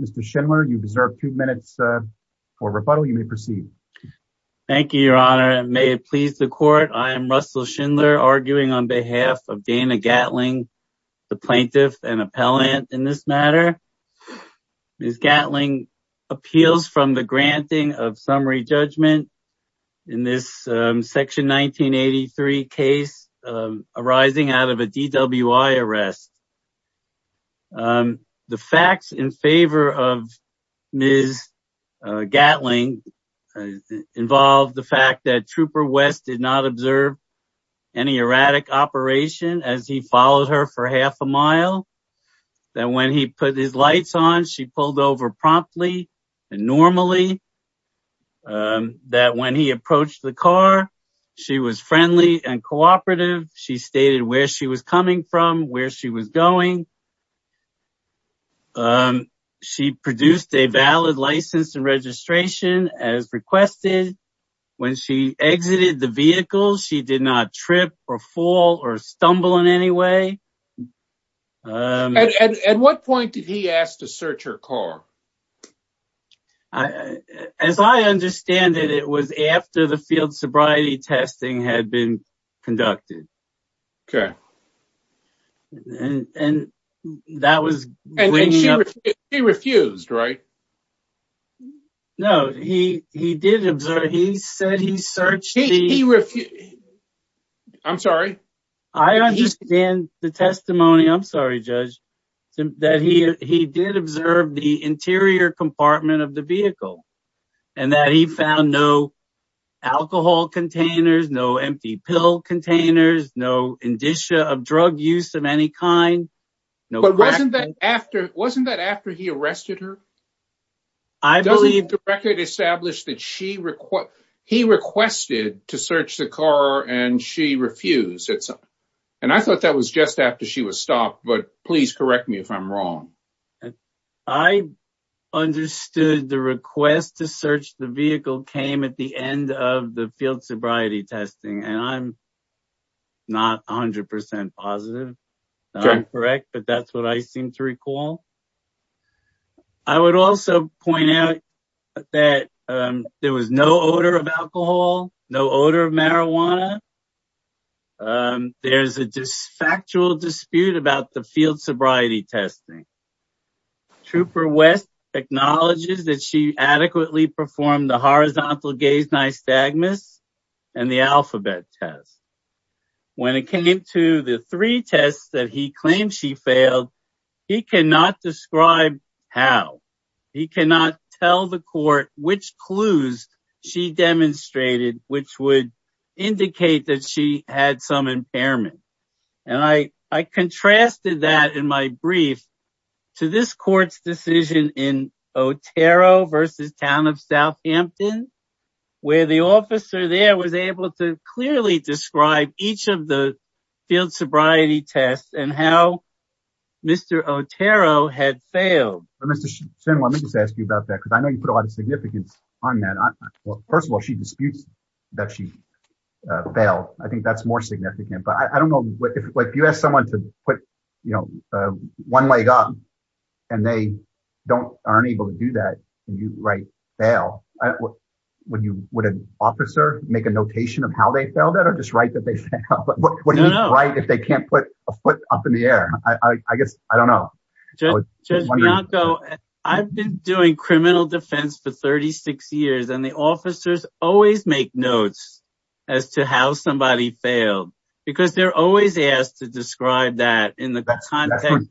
Mr. Schindler, you deserve two minutes for rebuttal. You may proceed. Thank you, Your Honor, and may it please the Court, I am Russell Schindler, arguing on behalf of Dana Gatling, the plaintiff and appellant in this matter. Ms. Gatling appeals from the granting of summary judgment in this Section 1983 case arising out of a DWI arrest. The facts in favor of Ms. Gatling involve the fact that Trooper West did not observe any erratic operation as he followed her for half a mile, that when he put his lights on, she pulled over promptly and normally, that when he approached the car, she was friendly and cooperative. She stated where she was coming from, where she was going. She produced a valid license and registration as requested. When she exited the vehicle, she did not trip or fall or stumble in any way. At what point did he ask to search her car? As I understand it, it was after the field sobriety testing had been conducted, and that was when he refused, right? No, he did observe, he said he searched the... He refused... I'm sorry? I understand the testimony, I'm sorry, Judge, that he did observe the interior compartment of the vehicle, and that he found no alcohol containers, no empty pill containers, no indicia of drug use of any kind, no crack... Wasn't that after he arrested her? I believe... Doesn't the record establish that he requested to search the car and she refused? And I thought that was just after she was stopped, but please correct me if I'm wrong. I understood the request to search the vehicle came at the end of the field sobriety testing, and I'm not 100% positive that I'm correct. But that's what I seem to recall. I would also point out that there was no odor of alcohol, no odor of marijuana. There's a factual dispute about the field sobriety testing. Trooper West acknowledges that she adequately performed the horizontal gaze nystagmus and the alphabet test. When it came to the three tests that he claimed she failed, he cannot describe how. He cannot tell the court which clues she demonstrated, which would indicate that she had some impairment. And I contrasted that in my brief to this court's decision in Otero versus Town of Southampton, where the officer there was able to clearly describe each of the field sobriety tests and how Mr. Otero had failed. Mr. Shin, let me just ask you about that, because I know you put a lot of significance on that. First of all, she disputes that she failed. I think that's more significant, but I don't know if you ask someone to put one leg up and they aren't able to do that, and you write fail, would an officer make a notation of how they failed it or just write that they failed? What do you write if they can't put a foot up in the air? I don't know. Judge Bianco, I've been doing criminal defense for 36 years, and the officers always make notes as to how somebody failed, because they're always asked to describe that in the context.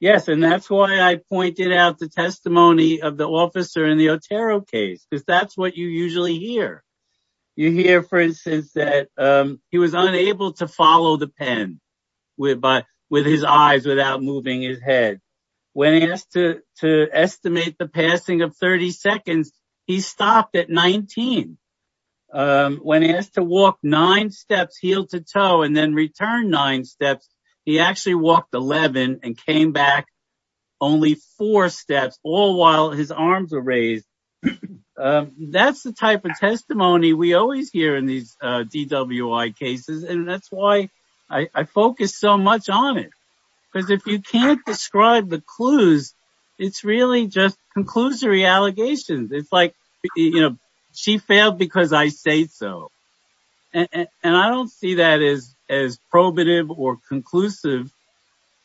Yes, and that's why I pointed out the testimony of the officer in the Otero case, because that's what you usually hear. You hear, for instance, that he was unable to follow the pen with his eyes without moving his head. When asked to estimate the passing of 30 seconds, he stopped at 19. When asked to walk nine steps heel to toe and then return nine steps, he actually walked 11 and came back only four steps, all while his arms were raised. That's the type of testimony we always hear in these DWI cases, and that's why I focus so much on it, because if you can't describe the clues, it's really just conclusory allegations. It's like, you know, she failed because I say so, and I don't see that as probative or conclusive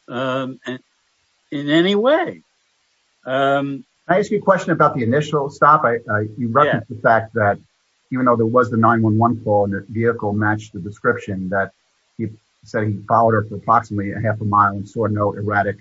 in any way. Can I ask you a question about the initial stop? You referenced the fact that even though there was the 9-1-1 call and the vehicle matched the description, that he said he followed her for approximately a half a mile and saw no erratic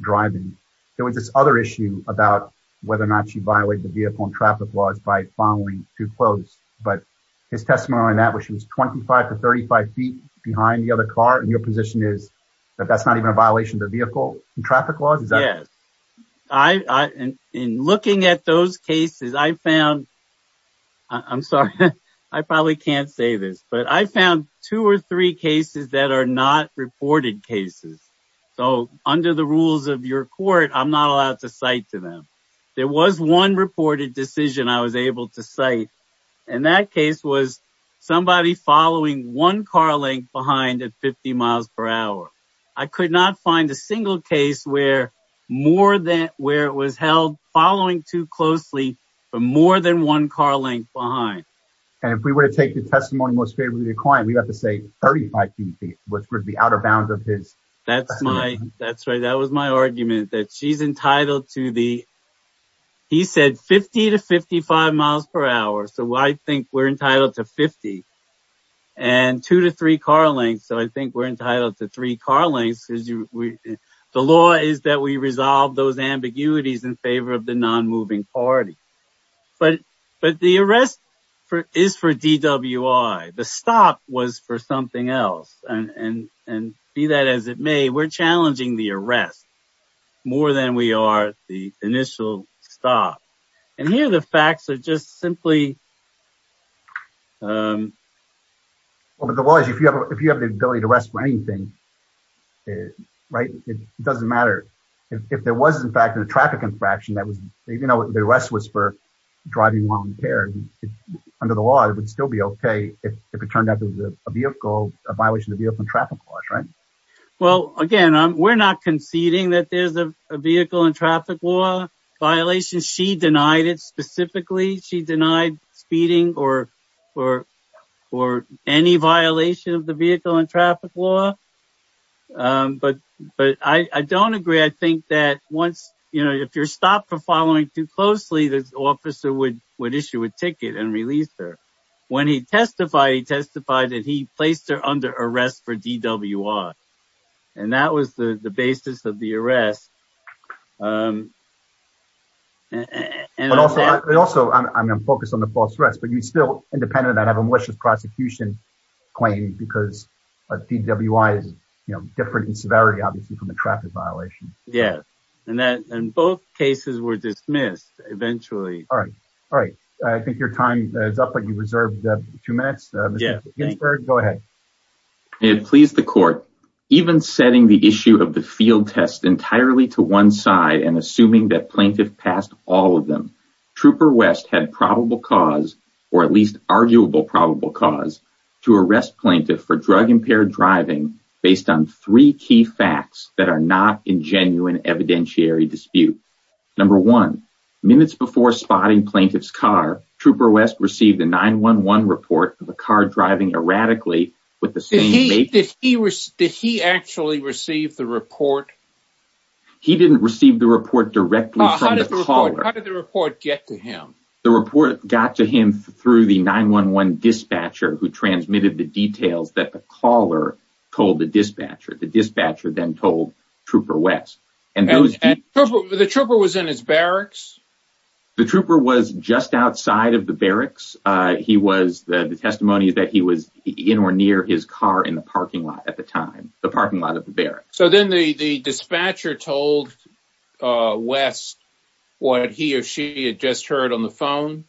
driving. There was this other issue about whether or not she violated the vehicle and traffic laws by following too close. But his testimony on that, where she was 25 to 35 feet behind the other car, and your position is that that's not even a violation of the vehicle and traffic laws? Yes. In looking at those cases, I found, I'm sorry, I probably can't say this, but I found two or three cases that are not reported cases. So under the rules of your court, I'm not allowed to cite to them. There was one reported decision I was able to cite, and that case was somebody following one car length behind at 50 miles per hour. I could not find a single case where more than where it was held following too closely for more than one car length behind. And if we were to take the testimony most favorably of the client, we'd have to say 35 feet, which would be out of bounds of his. That's my, that's right. That was my argument that she's entitled to the, he said 50 to 55 miles per hour. So I think we're entitled to 50 and two to three car lengths. So I think we're entitled to three car lengths. The law is that we resolve those ambiguities in favor of the non-moving party. But the arrest is for DWI. The stop was for something else and, and, and be that as it may, we're challenging the arrest more than we are the initial stop. And here, the facts are just simply. Well, but the law is, if you have, if you have the ability to arrest for anything, right, it doesn't matter. If there was in fact a traffic infraction, that was, you know, the arrest was for driving while impaired under the law, it would still be okay. If it turned out to be a vehicle, a violation of the vehicle and traffic laws, right? Well, again, we're not conceding that there's a vehicle and traffic law violation. She denied it specifically. She denied speeding or, or, or any violation of the vehicle and traffic law. But, but I don't agree. I think that once, you know, if you're stopped for following too closely, the officer would, would issue a ticket and release her. When he testified, he testified that he placed her under arrest for DWI. And that was the basis of the arrest. And also, I'm focused on the false threats, but you still independent that have a malicious prosecution claim because DWI is, you know, different in severity, obviously from the traffic violation. Yeah. And that, and both cases were dismissed eventually. All right. All right. I think your time is up, but you reserved two minutes. Go ahead. It pleased the court, even setting the issue of the field test entirely to one side and assuming that plaintiff passed all of them. Trooper West had probable cause, or at least arguable probable cause to arrest plaintiff for drug-impaired driving based on three key facts that are not in genuine evidentiary dispute. Number one, minutes before spotting plaintiff's car, Trooper West received a 911 report of a car driving erratically with the same date. Did he actually receive the report? He didn't receive the report directly from the caller. How did the report get to him? The report got to him through the 911 dispatcher who transmitted the details that the caller told the dispatcher. The dispatcher then told Trooper West. And the trooper was in his barracks. The trooper was just outside of the barracks. He was the testimony that he was in or near his car in the parking lot at the time, the parking lot of the barracks. So then the dispatcher told West what he or she had just heard on the phone?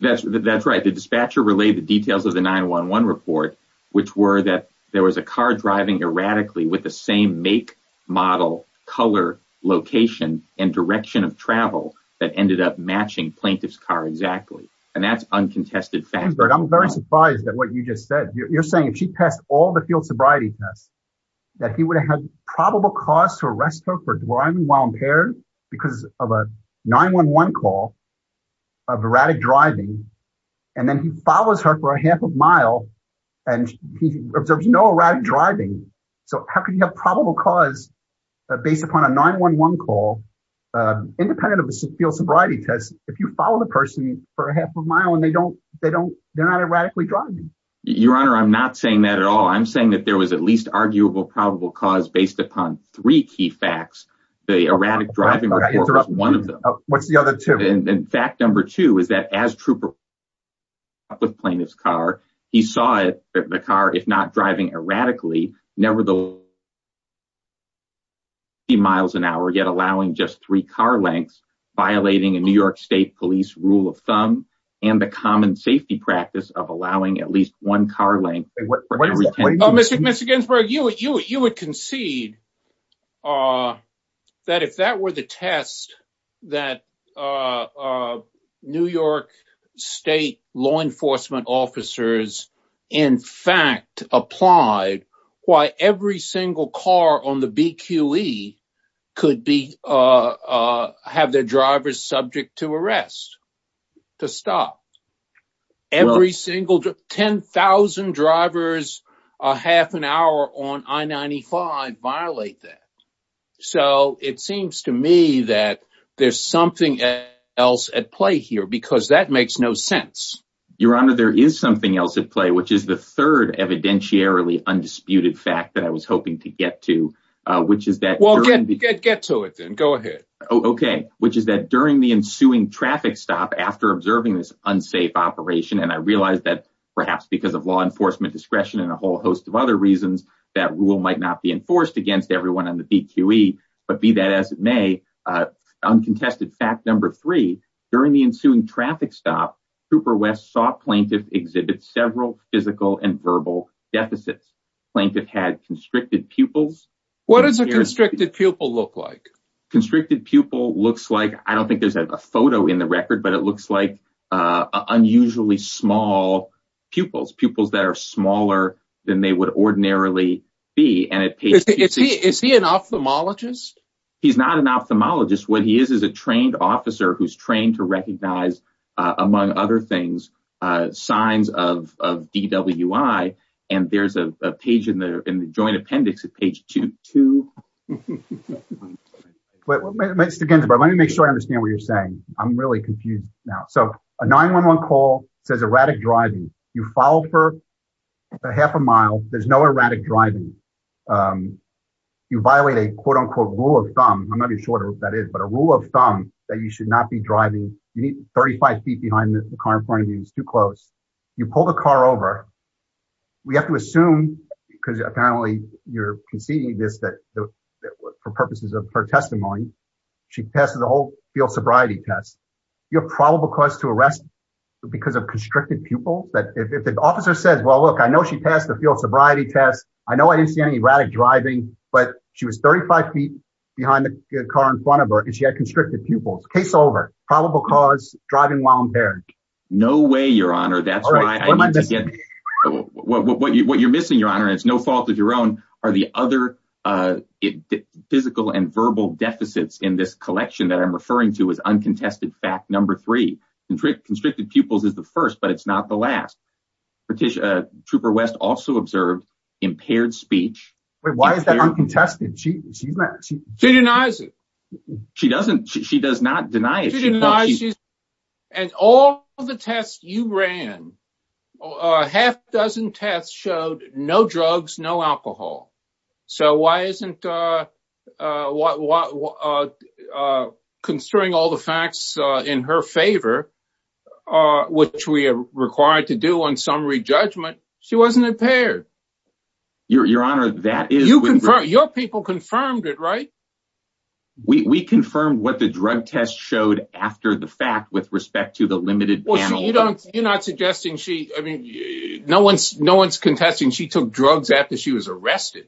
That's right. The dispatcher relayed the details of the 911 report, which were that there was a car driving erratically with the same make, model, color, location, and direction of travel that ended up matching plaintiff's car exactly. And that's uncontested fact. I'm very surprised at what you just said. You're saying if she passed all the field sobriety tests, that he would have probable cause to arrest her for driving while impaired because of a 911 call of erratic driving. And then he follows her for a half a mile and he observes no erratic driving. So how can you have probable cause based upon a 911 call independent of a field sobriety test if you follow the person for a half a mile and they don't they don't they're not erratically driving? Your Honor, I'm not saying that at all. I'm saying that there was at least arguable probable cause based upon three key facts. The erratic driving report was one of them. What's the other two? And fact number two is that as trooper with plaintiff's car, he saw the car, if not driving erratically, never the least 50 miles an hour, yet allowing just three car lengths, violating a New York state police rule of thumb and the common safety practice of allowing at least one car length. Mr. Ginsburg, you would concede that if that were the test that New York state law enforcement officers, in fact, applied, why every single car on the BQE could be have their drivers subject to arrest to stop every single 10,000 drivers a half an hour on I-95 violate that. So it seems to me that there's something else at play here because that makes no sense. Your Honor, there is something else at play, which is the third evidentiarily undisputed fact that I was hoping to get to, which is that. Well, get to it then. Go ahead. Okay. Which is that during the ensuing traffic stop after observing this unsafe operation, and I realized that perhaps because of law enforcement discretion and a whole host of other reasons that rule might not be enforced against everyone on the BQE, but be that as it may, uncontested fact number three, during the ensuing traffic stop, Cooper West saw plaintiff exhibit several physical and verbal deficits. Plaintiff had constricted pupils. What does a constricted pupil look like? Constricted pupil looks like, I don't think there's a photo in the record, but it looks like unusually small pupils. Pupils that are smaller than they would ordinarily be. Is he an ophthalmologist? He's not an ophthalmologist. What he is is a trained officer who's trained to recognize, among other things, signs of DWI, and there's a page in the joint appendix at page two. Mr. Ginsburg, let me make sure I understand what you're saying. I'm really confused now. So a 911 call says erratic driving. You follow for a half a mile. There's no erratic driving. You violate a quote unquote rule of thumb. I'm not even sure what that is, but a rule of thumb that you should not be driving. You need 35 feet behind the car in front of you. It's too close. You pull the car over. We have to assume, because apparently you're conceding this for purposes of her testimony. She passes the whole field sobriety test. You have probable cause to arrest because of constricted pupil. If the officer says, well, look, I know she passed the field sobriety test. I know I didn't see any erratic driving, but she was 35 feet behind the car in front of her and she had constricted pupils. Case over. Probable cause, driving while impaired. No way, Your Honor. That's why I need to get. What you're missing, Your Honor, and it's no fault of your own, are the other physical and verbal deficits in this collection that I'm referring to as uncontested fact number three. Constricted pupils is the first, but it's not the last. Patricia Trooper West also observed impaired speech. Wait, why is that uncontested? She denies it. She doesn't. She does not deny it. And all the tests you ran, a half dozen tests showed no drugs, no alcohol. So why isn't? Considering all the facts in her favor, which we are required to do on summary judgment, she wasn't impaired. Your Honor, that is your people confirmed it, right? We confirmed what the drug test showed after the fact with respect to the limited. You're not suggesting she I mean, no one's no one's contesting. She took drugs after she was arrested.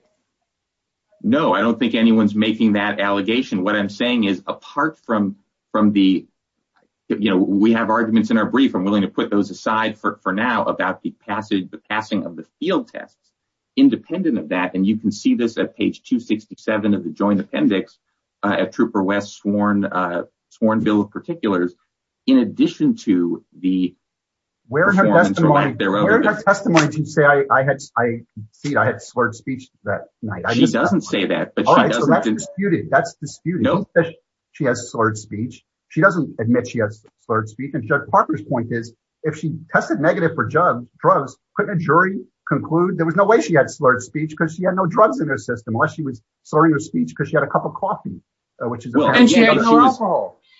No, I don't think anyone's making that allegation. What I'm saying is apart from from the you know, we have arguments in our brief. I'm willing to put those aside for now about the passage, the passing of the field tests independent of that. And you can see this at page 267 of the joint appendix at Trooper West sworn sworn bill of particulars. In addition to the. Wearing her testimony to say I had I see I had slurred speech that night. She doesn't say that, but that's disputed. That's disputed. She has slurred speech. She doesn't admit she has slurred speech. And Judge Parker's point is if she tested negative for drugs, couldn't a jury conclude there was no way she had slurred speech because she had no drugs in her system unless she was slurring her speech because she had a cup of coffee, which is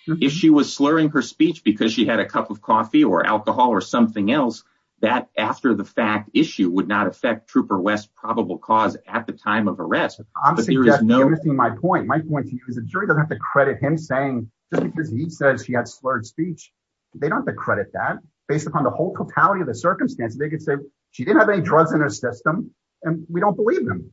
if she was slurring her speech because she had a cup of coffee or alcohol or something else that after the fact issue would not affect Trooper West probable cause at the time of arrest. I'm saying that you're missing my point. My point to you is a jury doesn't have to credit him saying just because he says he had slurred speech. They don't have to credit that based upon the whole totality of the circumstances. They could say she didn't have any drugs in her system and we don't believe them.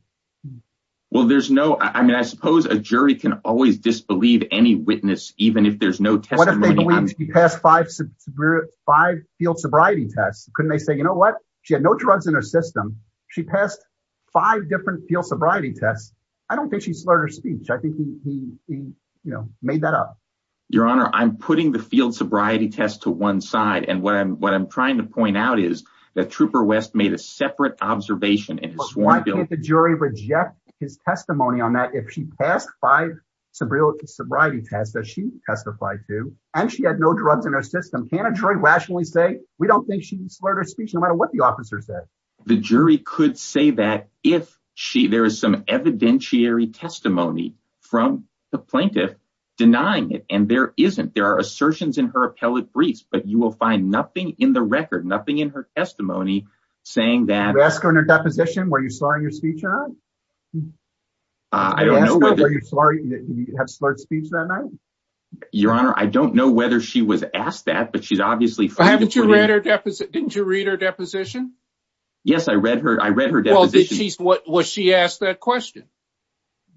Well, there's no I mean, I suppose a jury can always disbelieve any witness, even if there's no testimony. What if he passed five field sobriety tests? Couldn't they say, you know what? She had no drugs in her system. She passed five different field sobriety tests. I don't think she slurred her speech. I think he made that up. Your Honor, I'm putting the field sobriety test to one side. And what I'm what I'm trying to point out is that Trooper West made a separate observation in his sworn ability. Why can't the jury reject his testimony on that? She passed five sobriety tests that she testified to and she had no drugs in her system. Can a jury rationally say we don't think she slurred her speech no matter what the officer said? The jury could say that if she there is some evidentiary testimony from the plaintiff denying it and there isn't. There are assertions in her appellate briefs, but you will find nothing in the record, nothing in her testimony saying that. Did you ask her in her deposition, were you slurring your speech or not? I don't know whether you have slurred speech that night. Your Honor, I don't know whether she was asked that, but she's obviously. Haven't you read her deposit? Didn't you read her deposition? Yes, I read her. I read her deposition. What was she asked that question?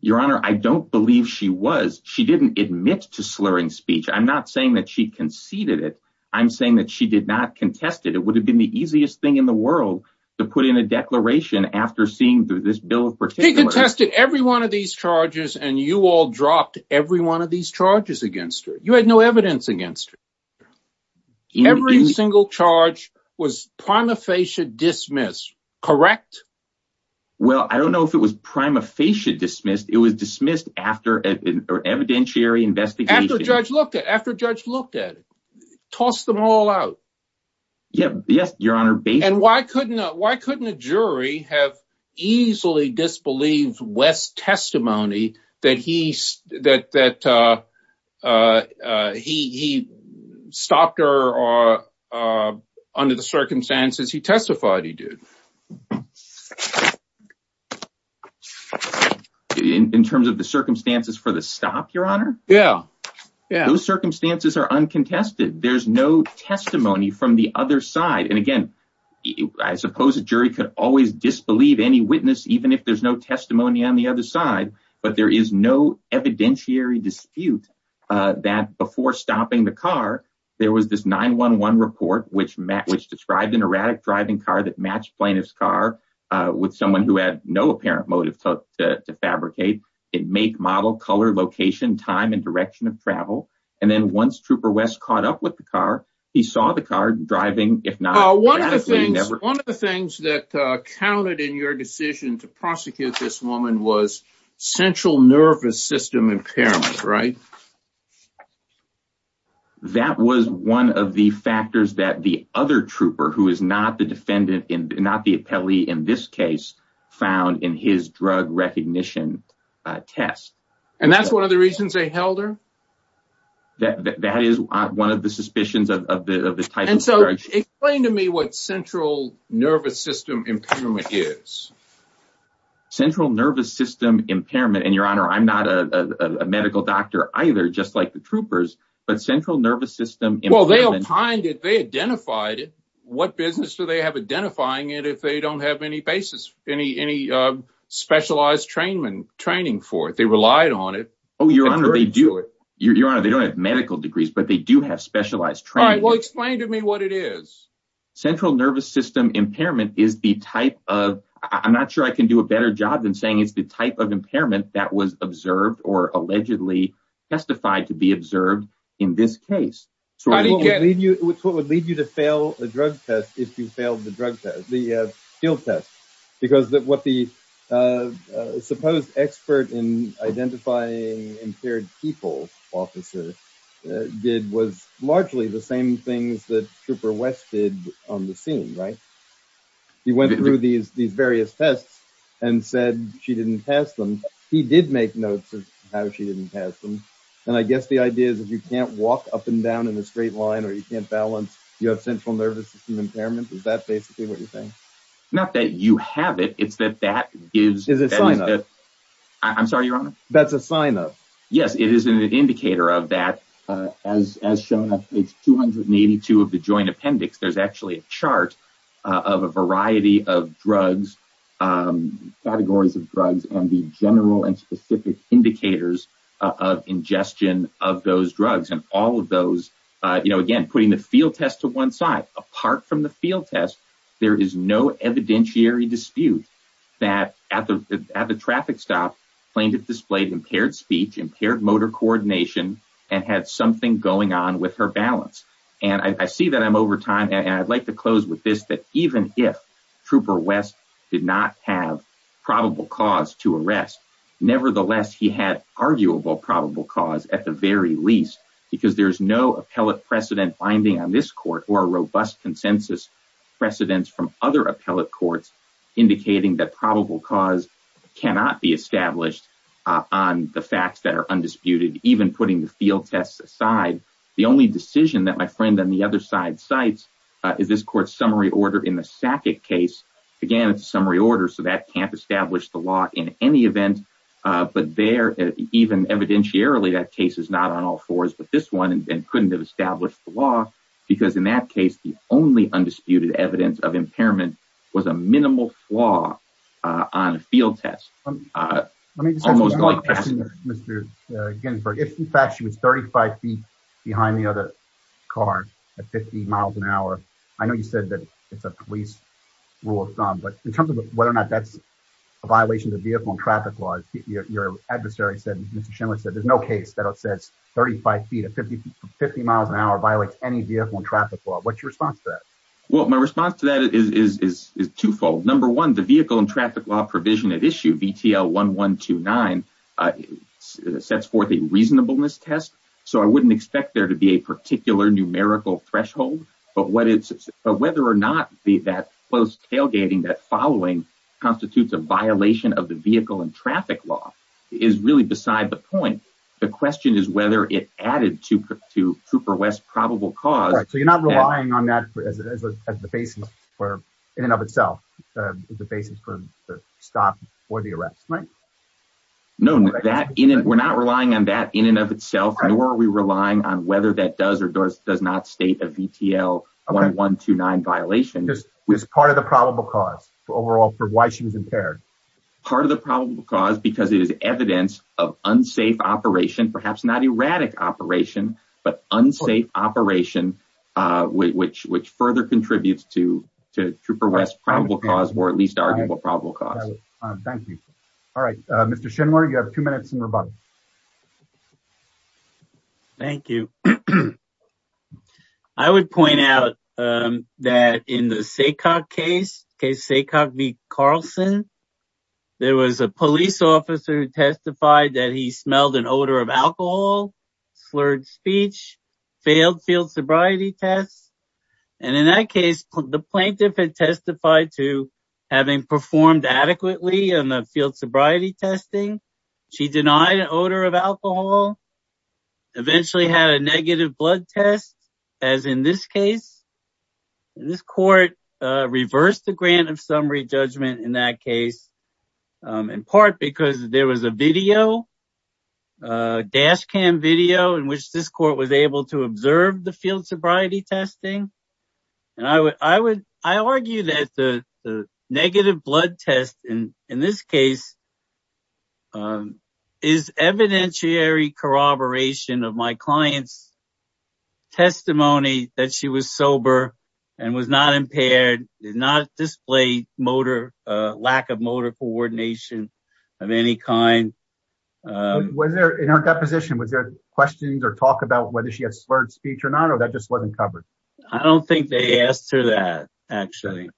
Your Honor, I don't believe she was. She didn't admit to slurring speech. I'm not saying that she conceded it. I'm saying that she did not contest it. It would have been the easiest thing in the world to put in a declaration after seeing this bill in particular. She contested every one of these charges and you all dropped every one of these charges against her. You had no evidence against her. Every single charge was prima facie dismissed, correct? Well, I don't know if it was prima facie dismissed. It was dismissed after an evidentiary investigation. After the judge looked at it. After the judge looked at it. Toss them all out. Yes, Your Honor. And why couldn't a jury have easily disbelieved West's testimony that he stopped her under the circumstances he testified he did? In terms of the circumstances for the stop, Your Honor? Yeah, yeah. Those circumstances are uncontested. There's no testimony from the other side. And again, I suppose a jury could always disbelieve any witness, even if there's no testimony on the other side. But there is no evidentiary dispute that before stopping the car, there was this 911 report, which described an erratic driving car that matched plaintiff's car with someone who had no apparent motive to fabricate. It make, model, color, location, time and direction of travel. And then once Trooper West caught up with the car, he saw the car driving, if not. One of the things that counted in your decision to prosecute this woman was central nervous system impairment, right? That was one of the factors that the other trooper, who is not the defendant, not the appellee in this case, found in his drug recognition test. And that's one of the reasons they held her? That is one of the suspicions of the title. And so explain to me what central nervous system impairment is. Central nervous system impairment. And Your Honor, I'm not a medical doctor either, just like the troopers. But central nervous system. Well, they'll find it. They identified it. What business do they have identifying it if they don't have any basis, any specialized trainment training for it? They relied on it. Oh, Your Honor, they do it. Your Honor, they don't have medical degrees, but they do have specialized training. Well, explain to me what it is. Central nervous system impairment is the type of I'm not sure I can do a better job than saying it's the type of impairment that was observed or allegedly testified to be observed in this case. So how do you get what would lead you to fail a drug test if you failed the drug test, the the supposed expert in identifying impaired people officer did was largely the same things that Trooper West did on the scene, right? He went through these various tests and said she didn't pass them. He did make notes of how she didn't pass them. And I guess the idea is if you can't walk up and down in a straight line or you can't balance, you have central nervous system impairment. Is that basically what you think? Not that you have it. It's that that is a sign of I'm sorry, Your Honor. That's a sign of. Yes, it is an indicator of that, as shown on page 282 of the joint appendix. There's actually a chart of a variety of drugs, categories of drugs and the general and specific indicators of ingestion of those drugs and all of those again, putting the field test to one side apart from the field test. There is no evidentiary dispute that at the at the traffic stop, plaintiff displayed impaired speech, impaired motor coordination and had something going on with her balance. And I see that I'm over time. And I'd like to close with this, that even if Trooper West did not have probable cause to arrest, nevertheless, he had arguable probable cause at the very least, because there is no appellate precedent binding on this court or a robust consensus precedence from other appellate courts indicating that probable cause cannot be established on the facts that are undisputed, even putting the field tests aside. The only decision that my friend on the other side cites is this court summary order in the Sackett case. Again, it's a summary order, so that can't establish the law in any event. But there, even evidentiarily, that case is not on all fours, but this one and couldn't have established the law, because in that case, the only undisputed evidence of impairment was a minimal flaw on a field test. I mean, Mr. Ginsburg, if in fact she was 35 feet behind the other car at 50 miles an hour. I know you said that it's a police rule of thumb, but in terms of whether or not that's a violation of vehicle and traffic laws, your adversary said, Mr. Schindler said, there's no case that says 35 feet at 50 miles an hour violates any vehicle and traffic law. What's your response to that? Well, my response to that is twofold. Number one, the vehicle and traffic law provision at issue, VTL 1129, sets forth a reasonableness test. So I wouldn't expect there to be a particular numerical threshold, but whether or not that tailgating that following constitutes a violation of the vehicle and traffic law is really beside the point. The question is whether it added to Trooper West's probable cause. So you're not relying on that as the basis for, in and of itself, the basis for the stop or the arrest, right? No, we're not relying on that in and of itself, nor are we relying on whether that does or does not state a VTL 1129 violation. Is part of the probable cause overall for why she was impaired? Part of the probable cause, because it is evidence of unsafe operation, perhaps not erratic operation, but unsafe operation, which further contributes to Trooper West's probable cause, or at least arguable probable cause. Thank you. All right, Mr. Schindler, you have two minutes in rebuttal. Thank you. So I would point out that in the SACOG case, case SACOG v. Carlson, there was a police officer who testified that he smelled an odor of alcohol, slurred speech, failed field sobriety tests, and in that case, the plaintiff had testified to having performed adequately on the field sobriety testing. She denied an odor of alcohol, eventually had a negative blood test, as in this case. This court reversed the grant of summary judgment in that case, in part because there was a video, dash cam video, in which this court was able to observe the field sobriety testing. And I argue that the negative blood test, in this case, is evidentiary corroboration of my client's testimony that she was sober and was not impaired, did not display lack of motor coordination of any kind. Was there, in her deposition, was there questions or talk about whether she had slurred speech or not, or that just wasn't covered? I don't think they asked her that, actually.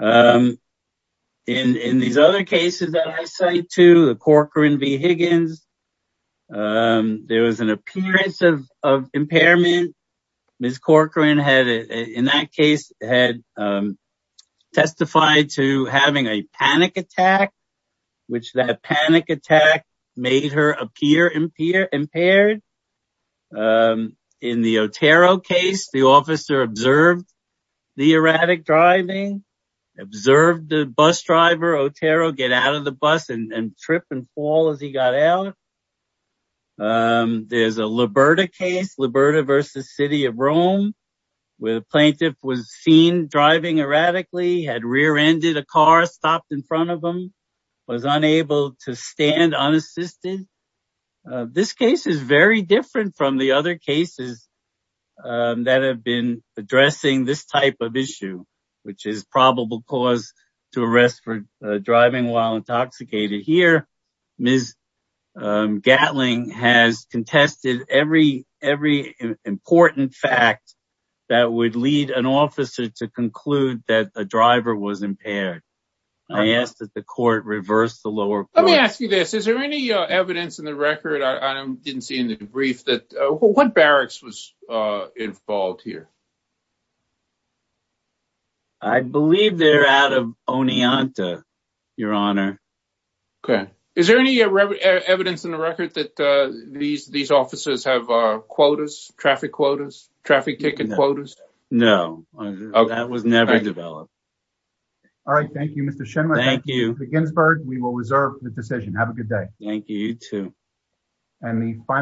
In these other cases that I cite, too, the Corcoran v. Higgins, there was an appearance of impairment. Ms. Corcoran, in that case, had testified to having a panic attack, which that panic impaired. In the Otero case, the officer observed the erratic driving, observed the bus driver, Otero, get out of the bus and trip and fall as he got out. There's a Liberta case, Liberta v. City of Rome, where the plaintiff was seen driving erratically, had rear-ended a car, stopped in front of him, was unable to stand unassisted. This case is very different from the other cases that have been addressing this type of issue, which is probable cause to arrest for driving while intoxicated. Here, Ms. Gatling has contested every important fact that would lead an officer to conclude that a driver was impaired. I ask that the court reverse the lower court. Is there any evidence in the record, I didn't see in the brief, that what barracks was involved here? I believe they're out of Oneonta, Your Honor. Is there any evidence in the record that these officers have quotas, traffic quotas, traffic ticket quotas? No, that was never developed. All right, thank you, Mr. Schenmaier, thank you, Mr. Ginsburg. We will reserve the decision. Have a good day. Thank you, you too.